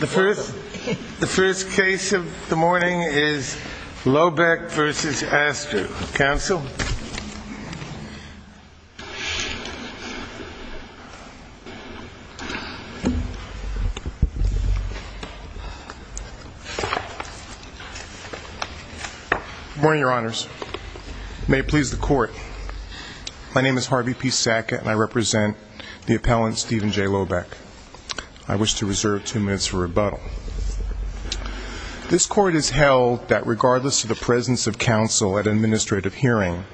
The first case of the morning is Lohbeck v. Astor. Counsel? Good morning, Your Honors. May it please the Court. My name is Harvey P. Sackett, and I represent the appellant Stephen J. Lohbeck. I wish to reserve two minutes for rebuttal. This Court has held that regardless of the presence of counsel at an administrative hearing,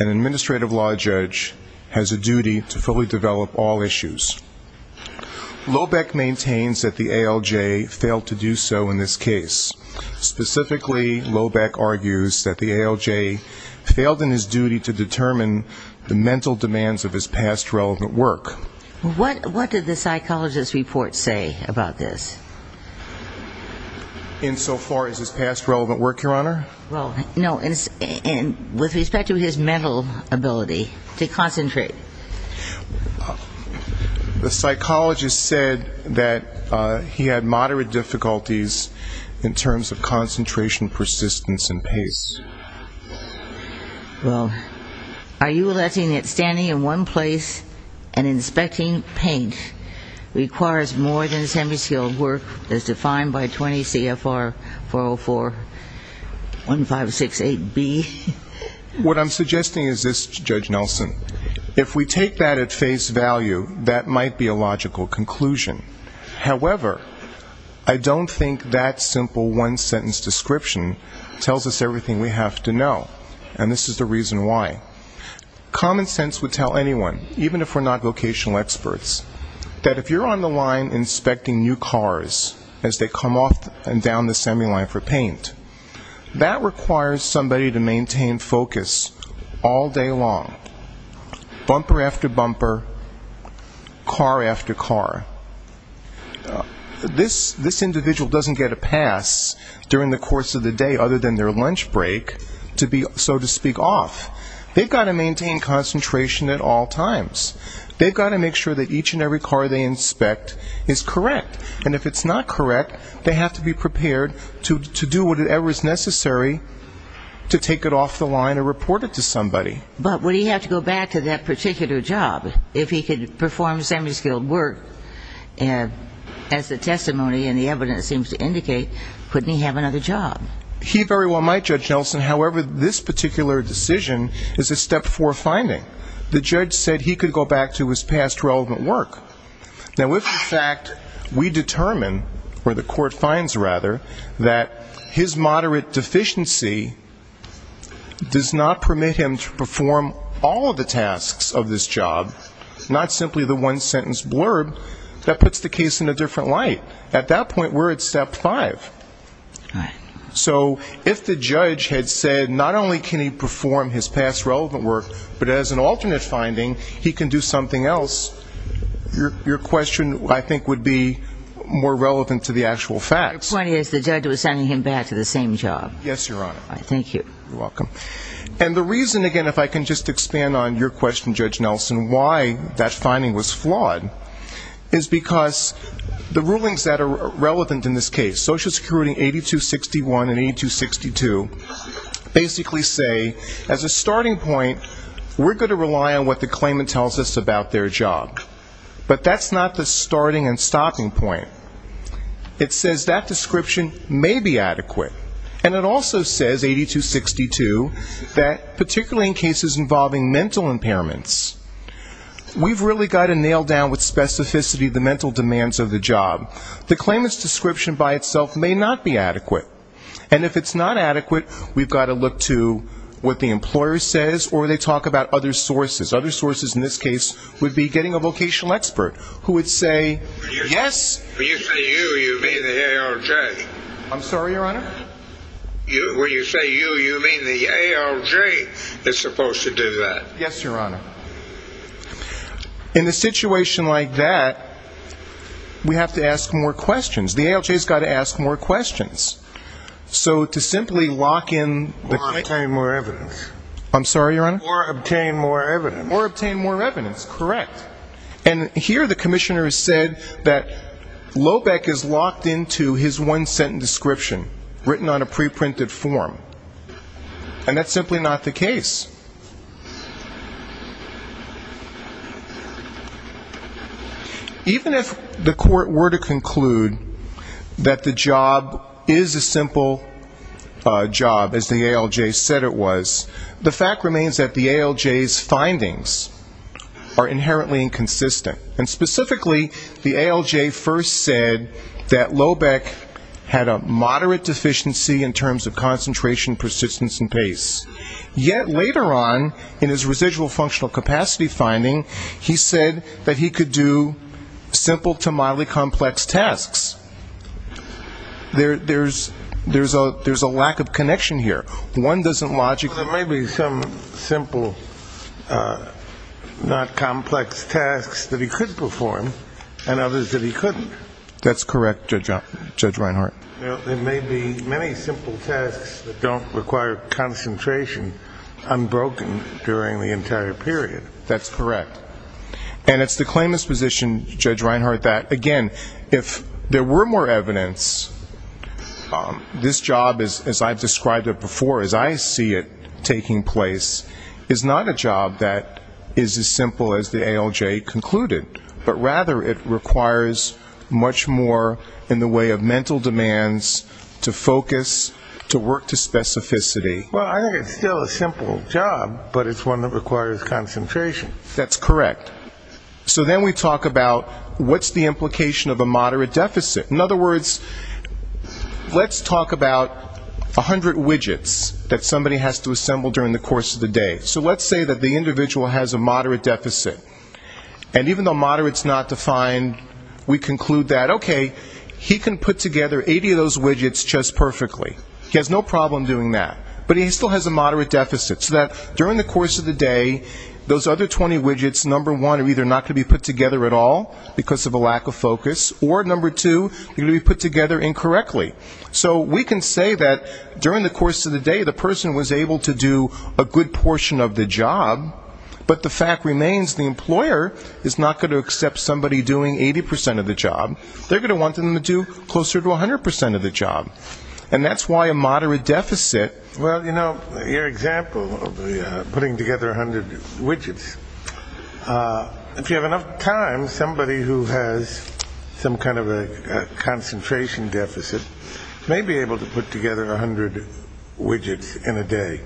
an administrative law judge has a duty to fully develop all issues. Lohbeck maintains that the ALJ failed to do so in this case. Specifically, Lohbeck argues that the ALJ failed in his duty to determine the mental demands of his past relevant work. What did the psychologist's report say about this? Insofar as his past relevant work, Your Honor? Well, no, with respect to his mental ability to concentrate. The psychologist said that he had moderate difficulties in terms of concentration, persistence, and pace. Well, are you alleging that standing in one place and inspecting paint requires more than semi-skilled work as defined by 20 CFR 404-1568B? What I'm suggesting is this, Judge Nelson. If we take that at face value, that might be a logical conclusion. However, I don't think that simple one-sentence description tells us everything we have to know, and this is the reason why. Common sense would tell anyone, even if we're not vocational experts, that if you're on the line inspecting new cars as they come off and down the semi-line for paint, that requires somebody to maintain focus all day long, bumper after bumper, car after car. This individual doesn't get a pass during the course of the day other than their lunch break to be, so to speak, off. They've got to maintain concentration at all times. They've got to make sure that each and every car they inspect is correct, and if it's not correct, they have to be prepared to do whatever is necessary to take it off the line or report it to somebody. But would he have to go back to that particular job? If he could perform semi-skilled work, as the testimony and the evidence seems to indicate, couldn't he have another job? He very well might, Judge Nelson. However, this particular decision is a step-four finding. The judge said he could go back to his past relevant work. Now, if, in fact, we determine, or the court finds, rather, that his moderate deficiency does not permit him to perform all of the tasks of this job, not simply the one-sentence blurb, that puts the case in a different light. At that point, we're at step five. So if the judge had said not only can he perform his past relevant work, but as an alternate finding, he can do something else, your question, I think, would be more relevant to the actual facts. My point is the judge was sending him back to the same job. Yes, Your Honor. Thank you. You're welcome. And the reason, again, if I can just expand on your question, Judge Nelson, why that finding was flawed, is because the rulings that are relevant in this case, Social Security 8261 and 8262, basically say as a starting point, we're going to rely on what the claimant tells us about their job. But that's not the starting and stopping point. It says that description may be adequate. And it also says, 8262, that particularly in cases involving mental impairments, we've really got to nail down with specificity the mental demands of the job. The claimant's description by itself may not be adequate. And if it's not adequate, we've got to look to what the employer says or they talk about other sources. Other sources in this case would be getting a vocational expert who would say, yes. When you say you, you mean the ALJ. I'm sorry, Your Honor? When you say you, you mean the ALJ is supposed to do that. Yes, Your Honor. In a situation like that, we have to ask more questions. The ALJ has got to ask more questions. So to simply lock in the claimant. Or obtain more evidence. I'm sorry, Your Honor? Or obtain more evidence. Or obtain more evidence, correct. And here the commissioner has said that Lohbeck is locked into his one-sentence description, written on a pre-printed form. And that's simply not the case. Even if the court were to conclude that the job is a simple job, as the ALJ said it was, the fact remains that the ALJ's findings are inherently inconsistent. And specifically, the ALJ first said that Lohbeck had a moderate deficiency in terms of concentration, persistence, and pace. Yet later on, in his residual functional capacity finding, he said that he could do simple to mildly complex tasks. There's a lack of connection here. One doesn't logically. Well, there may be some simple, not complex tasks that he could perform. And others that he couldn't. That's correct, Judge Reinhart. There may be many simple tasks that don't require concentration unbroken during the entire period. That's correct. And it's the claimant's position, Judge Reinhart, that, again, if there were more evidence, this job, as I've described it before, as I see it taking place, is not a job that is as simple as the ALJ concluded. But rather it requires much more in the way of mental demands to focus, to work to specificity. Well, I think it's still a simple job, but it's one that requires concentration. That's correct. So then we talk about what's the implication of a moderate deficit. In other words, let's talk about 100 widgets that somebody has to assemble during the course of the day. So let's say that the individual has a moderate deficit. And even though moderate is not defined, we conclude that, okay, he can put together 80 of those widgets just perfectly. He has no problem doing that. But he still has a moderate deficit, so that during the course of the day, those other 20 widgets, number one, are either not going to be put together at all because of a lack of focus, or, number two, they're going to be put together incorrectly. So we can say that during the course of the day the person was able to do a good portion of the job, but the fact remains the employer is not going to accept somebody doing 80% of the job. They're going to want them to do closer to 100% of the job, and that's why a moderate deficit. Well, you know, your example of putting together 100 widgets, if you have enough time, somebody who has some kind of a concentration deficit may be able to put together 100 widgets in a day.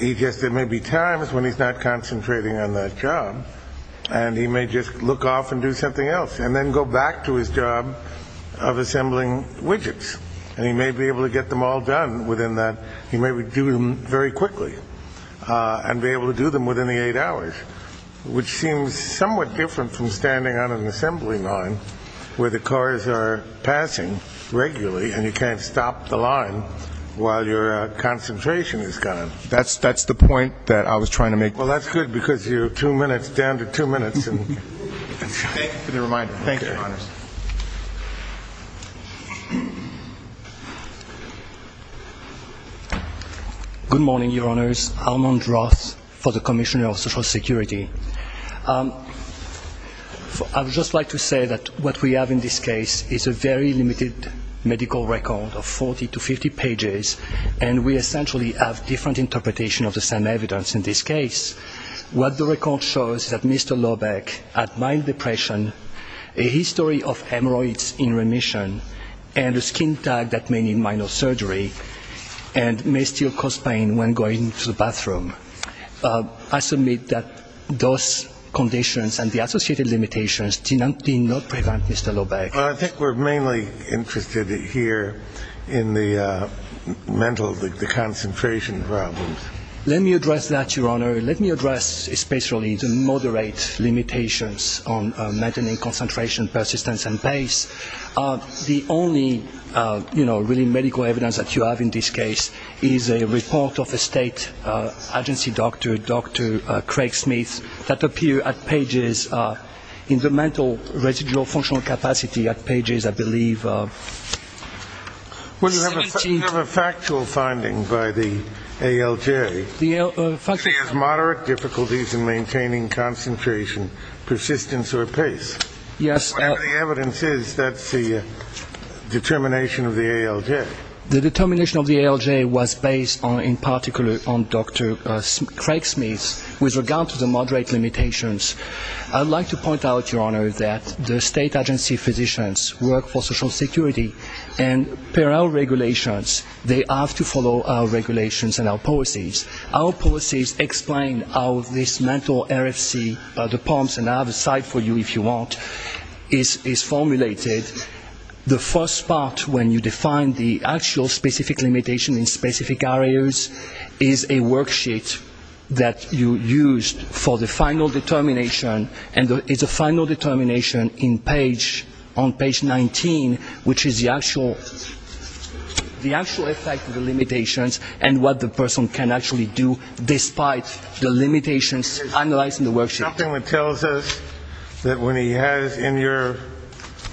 There may be times when he's not concentrating on that job, and he may just look off and do something else and then go back to his job of assembling widgets. And he may be able to get them all done within that. He may do them very quickly and be able to do them within the eight hours, which seems somewhat different from standing on an assembly line where the cars are passing regularly and you can't stop the line while your concentration is gone. That's the point that I was trying to make. Well, that's good because you're two minutes down to two minutes. Thank you for the reminder. Thank you, Your Honors. Good morning, Your Honors. Armand Roth for the Commissioner of Social Security. I would just like to say that what we have in this case is a very limited medical record of 40 to 50 pages, and we essentially have different interpretations of the same evidence in this case. What the record shows is that Mr. Lohbeck had mild depression, a history of hemorrhoids in remission, and a skin tag that may need minor surgery and may still cause pain when going to the bathroom. I submit that those conditions and the associated limitations did not prevent Mr. Lohbeck. I think we're mainly interested here in the mental, the concentration problems. Let me address that, Your Honor. Let me address especially the moderate limitations on maintaining concentration, persistence, and pace. The only, you know, really medical evidence that you have in this case is a report of a state agency doctor, Dr. Craig Smith, that appeared at pages in the mental residual functional capacity at pages, I believe, 17. Well, you have a factual finding by the ALJ. The ALJ? She has moderate difficulties in maintaining concentration, persistence, or pace. Yes. Whatever the evidence is, that's the determination of the ALJ. The determination of the ALJ was based in particular on Dr. Craig Smith with regard to the moderate limitations. I'd like to point out, Your Honor, that the state agency physicians work for Social Security, and per our regulations, they have to follow our regulations and our policies. Our policies explain how this mental RFC, the POMS, and I have a slide for you if you want, is formulated. The first part, when you define the actual specific limitation in specific areas, is a worksheet that you use for the final determination, and it's a final determination on page 19, which is the actual effect of the limitations and what the person can actually do despite the limitations analyzed in the worksheet. Something that tells us that when he has, in your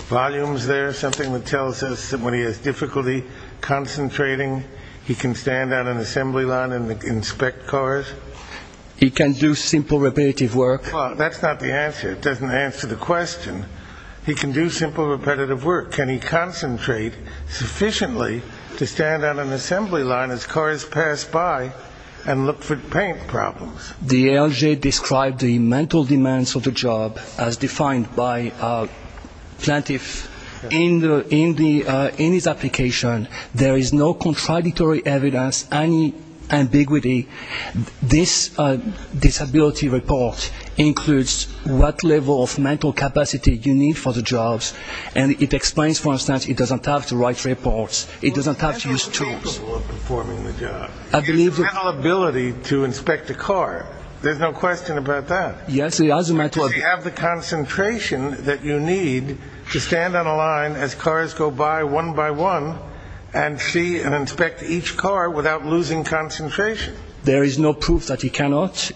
volumes there, something that tells us that when he has difficulty concentrating, he can stand on an assembly line and inspect cars? He can do simple repetitive work. Well, that's not the answer. It doesn't answer the question. He can do simple repetitive work. Can he concentrate sufficiently to stand on an assembly line as cars pass by and look for paint problems? The ALJ described the mental demands of the job as defined by Plantev. In his application, there is no contradictory evidence, any ambiguity. This disability report includes what level of mental capacity you need for the jobs, and it explains, for instance, it doesn't have to write reports. It doesn't have to use tools. Mental ability to inspect a car. There's no question about that. Does he have the concentration that you need to stand on a line as cars go by one by one and see and inspect each car without losing concentration? There is no proof that he cannot.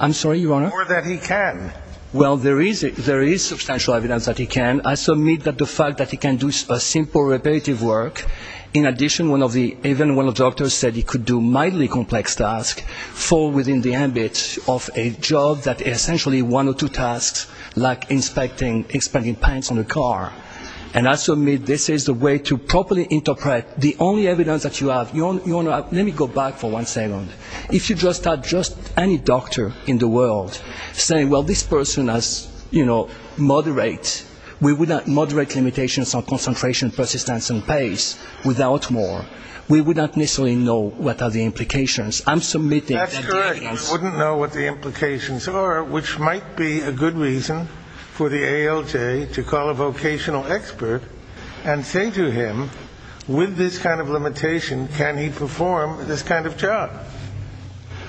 I'm sorry, Your Honor? Or that he can. Well, there is substantial evidence that he can. I submit that the fact that he can do simple repetitive work, in addition even when the doctor said he could do mildly complex tasks, fall within the ambit of a job that is essentially one or two tasks like inspecting, inspecting paints on a car. And I submit this is the way to properly interpret the only evidence that you have. Your Honor, let me go back for one second. If you just had just any doctor in the world saying, well, this person has, you know, moderate, we would have moderate limitations on concentration, persistence, and pace, without more, we would not necessarily know what are the implications. I'm submitting that evidence. That's correct. We wouldn't know what the implications are, which might be a good reason for the ALJ to call a vocational expert and say to him, with this kind of limitation, can he perform this kind of job?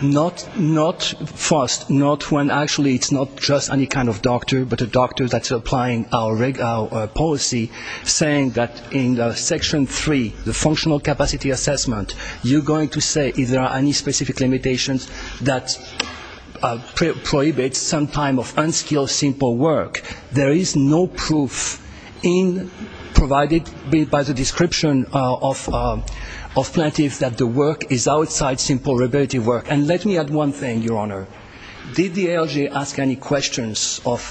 Not first. Not when actually it's not just any kind of doctor, but a doctor that's applying our policy saying that in Section 3, the functional capacity assessment, you're going to say if there are any specific limitations that prohibit some kind of unskilled simple work. There is no proof provided by the description of plaintiff that the work is outside simple repetitive work. And let me add one thing, Your Honor. Did the ALJ ask any questions of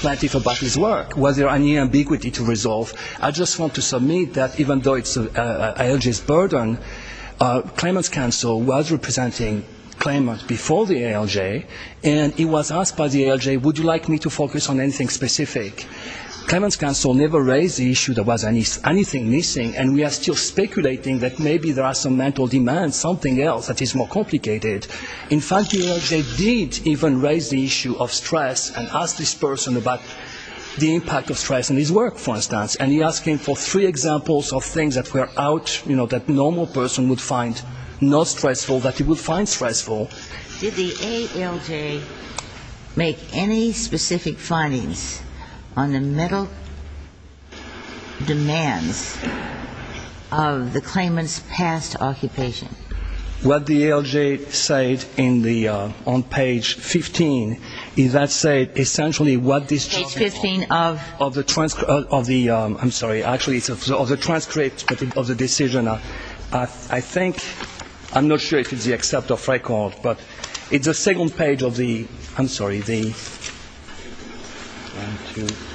plaintiff about his work? Was there any ambiguity to resolve? I just want to submit that even though it's ALJ's burden, claimant's counsel was representing claimant before the ALJ, and he was asked by the ALJ, would you like me to focus on anything specific? Claimant's counsel never raised the issue there was anything missing, and we are still speculating that maybe there are some mental demands, something else that is more complicated. In fact, the ALJ did even raise the issue of stress and asked this person about the impact of stress on his work, for instance, and he asked him for three examples of things that were out, you know, that a normal person would find not stressful, that he would find stressful. Did the ALJ make any specific findings on the mental demands of the claimant's past occupation? What the ALJ said on page 15, that said essentially what this job involves of the transcript of the decision. I think, I'm not sure if it's the accept of record, but it's the second page of the, I'm sorry, the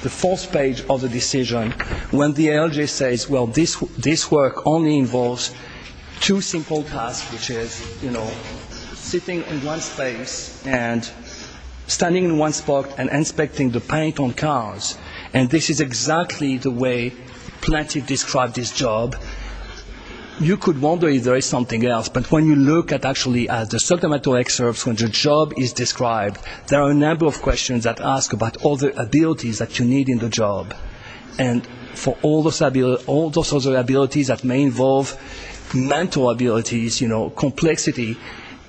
fourth page of the decision when the ALJ says, well, this work only involves two simple tasks, which is, you know, sitting in one space and standing in one spot and inspecting the paint on cars, and this is exactly the way Plante described his job. You could wonder if there is something else, but when you look at actually at the subliminal excerpts when the job is described, there are a number of questions that ask about all the abilities that you need in the job, and for all those other abilities that may involve mental abilities, you know, complexity,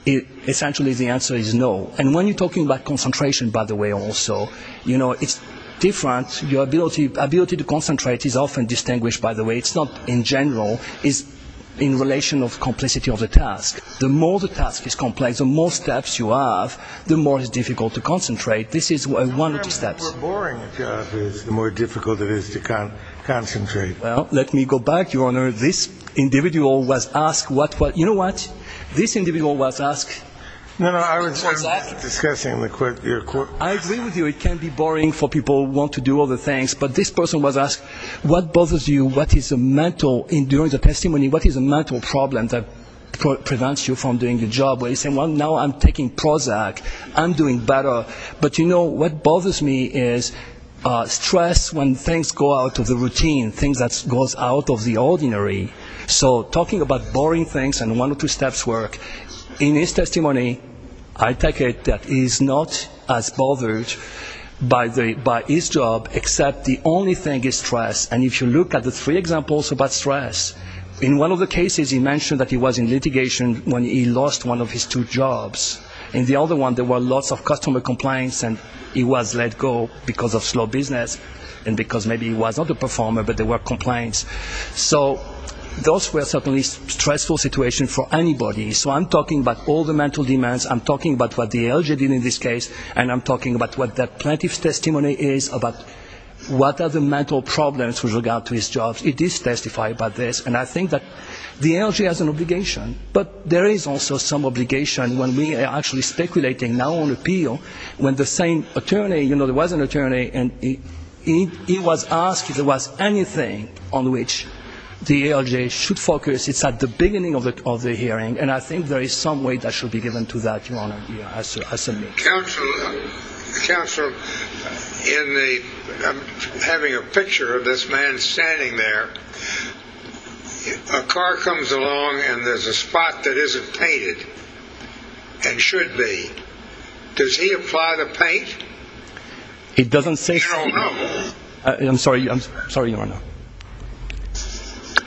essentially the answer is no. And when you're talking about concentration, by the way, also, you know, it's different. Your ability to concentrate is often distinguished by the way, it's not in general, it's in relation of complicity of the task. The more the task is complex, the more steps you have, the more it's difficult to concentrate. This is one of the steps. The more boring a job is, the more difficult it is to concentrate. Well, let me go back, Your Honor. This individual was asked what, you know what? This individual was asked. No, no, I was just discussing the court. I agree with you, it can be boring for people who want to do other things, but this person was asked, what bothers you, what is a mental, in doing the testimony, what is a mental problem that prevents you from doing the job? Well, he said, well, now I'm taking Prozac, I'm doing better, but, you know, what bothers me is stress when things go out of the routine, things that goes out of the ordinary. So talking about boring things and one or two steps work. In his testimony, I take it that he's not as bothered by his job, except the only thing is stress. And if you look at the three examples about stress, in one of the cases he mentioned that he was in litigation when he lost one of his two jobs. In the other one, there were lots of customer complaints and he was let go because of slow business and because maybe he was not a performer, but there were complaints. So those were certainly stressful situations for anybody. So I'm talking about all the mental demands. I'm talking about what the LG did in this case, and I'm talking about what the plaintiff's testimony is about what are the mental problems with regard to his job. It is testified by this, and I think that the LG has an obligation, but there is also some obligation when we are actually speculating now on appeal, when the same attorney, you know, there was an attorney, and he was asked if there was anything on which the LG should focus. It's at the beginning of the hearing, and I think there is some way that should be given to that, Your Honor, as a means. Counsel, in the – I'm having a picture of this man standing there. A car comes along and there's a spot that isn't painted and should be. Does he apply the paint? He doesn't say – Your Honor. I'm sorry. I'm sorry, Your Honor.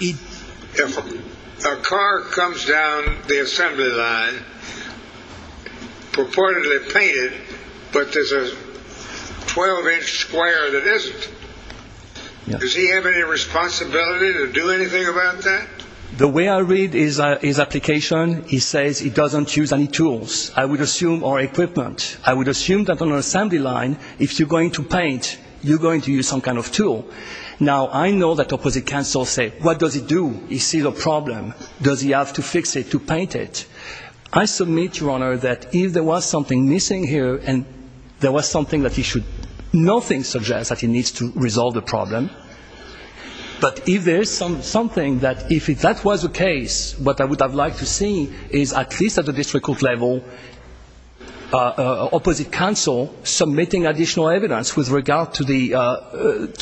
If a car comes down the assembly line purportedly painted, but there's a 12-inch square that isn't, does he have any responsibility to do anything about that? The way I read his application, he says he doesn't use any tools, I would assume, or equipment. I would assume that on an assembly line, if you're going to paint, you're going to use some kind of tool. Now, I know that opposite counsel say, what does he do? He sees a problem. Does he have to fix it to paint it? I submit, Your Honor, that if there was something missing here and there was something that he should – nothing suggests that he needs to resolve the problem. But if there's something that – if that was the case, what I would have liked to see is, at least at the district court level, opposite counsel submitting additional evidence with regard to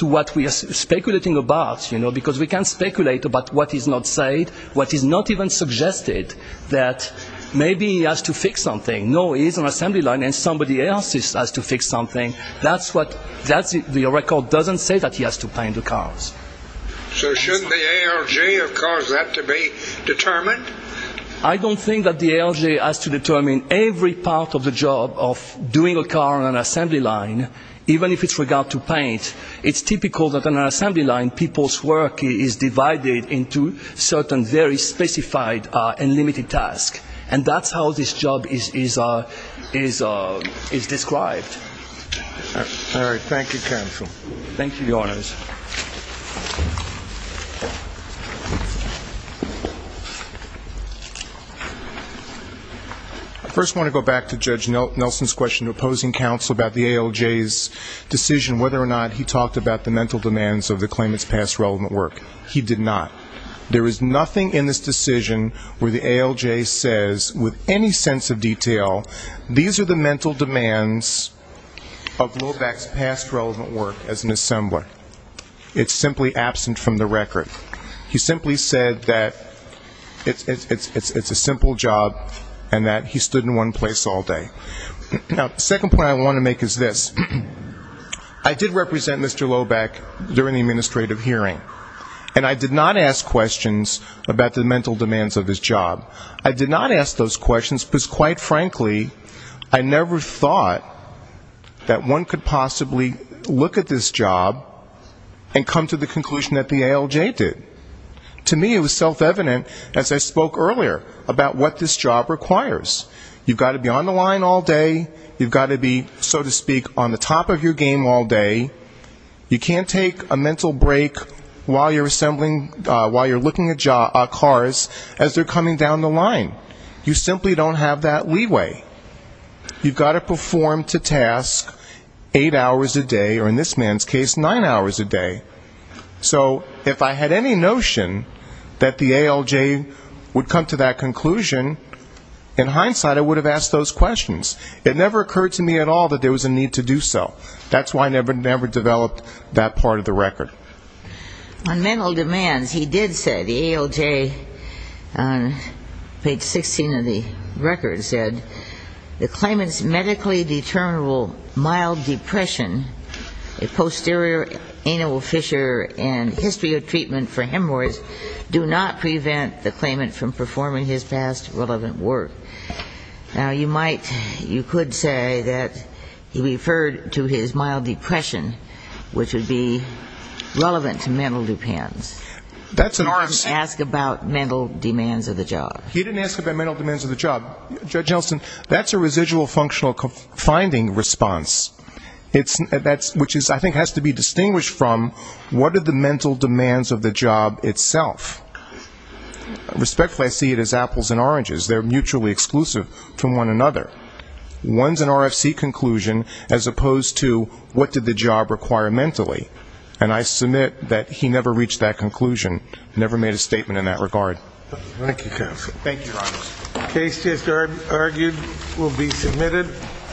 what we are speculating about, you know, because we can speculate about what is not said, what is not even suggested, that maybe he has to fix something. No, he is on an assembly line and somebody else has to fix something. That's what – the record doesn't say that he has to paint the cars. So shouldn't the ALJ have caused that to be determined? I don't think that the ALJ has to determine every part of the job of doing a car on an assembly line, even if it's with regard to paint. It's typical that on an assembly line, people's work is divided into certain very specified and limited tasks. And that's how this job is described. All right. Thank you, counsel. Thank you, Your Honors. I first want to go back to Judge Nelson's question to opposing counsel about the ALJ's decision whether or not he talked about the mental demands of the claimants' past relevant work. He did not. There is nothing in this decision where the ALJ says with any sense of detail, these are the mental demands of Lobeck's past relevant work as an assembler. It's simply absent from the record. He simply said that it's a simple job and that he stood in one place all day. Now, the second point I want to make is this. I did represent Mr. Lobeck during the administrative hearing, and I did not ask questions about the mental demands of his job. I did not ask those questions because, quite frankly, I never thought that one could possibly look at this job and come to the conclusion that the ALJ did. To me, it was self-evident, as I spoke earlier, about what this job requires. You've got to be on the line all day. You've got to be, so to speak, on the top of your game all day. You can't take a mental break while you're assembling, while you're looking at cars, as they're coming down the line. You simply don't have that leeway. You've got to perform to task eight hours a day, or in this man's case, nine hours a day. So if I had any notion that the ALJ would come to that conclusion, in hindsight, I would have asked those questions. It never occurred to me at all that there was a need to do so. That's why I never developed that part of the record. On mental demands, he did say, the ALJ, on page 16 of the record, said, the claimant's medically determinable mild depression, a posterior anal fissure, and history of treatment for hemorrhoids do not prevent the claimant from performing his past relevant work. Now, you might, you could say that he referred to his mild depression, which would be relevant to mental depends. Nor did he ask about mental demands of the job. He didn't ask about mental demands of the job. Judge Elston, that's a residual functional finding response, which I think has to be distinguished from what are the mental demands of the job itself. Respectfully, I see it as apples and oranges. They're mutually exclusive to one another. One's an RFC conclusion as opposed to what did the job require mentally. And I submit that he never reached that conclusion, never made a statement in that regard. Thank you, counsel. Thank you, Your Honor. The case just argued will be submitted.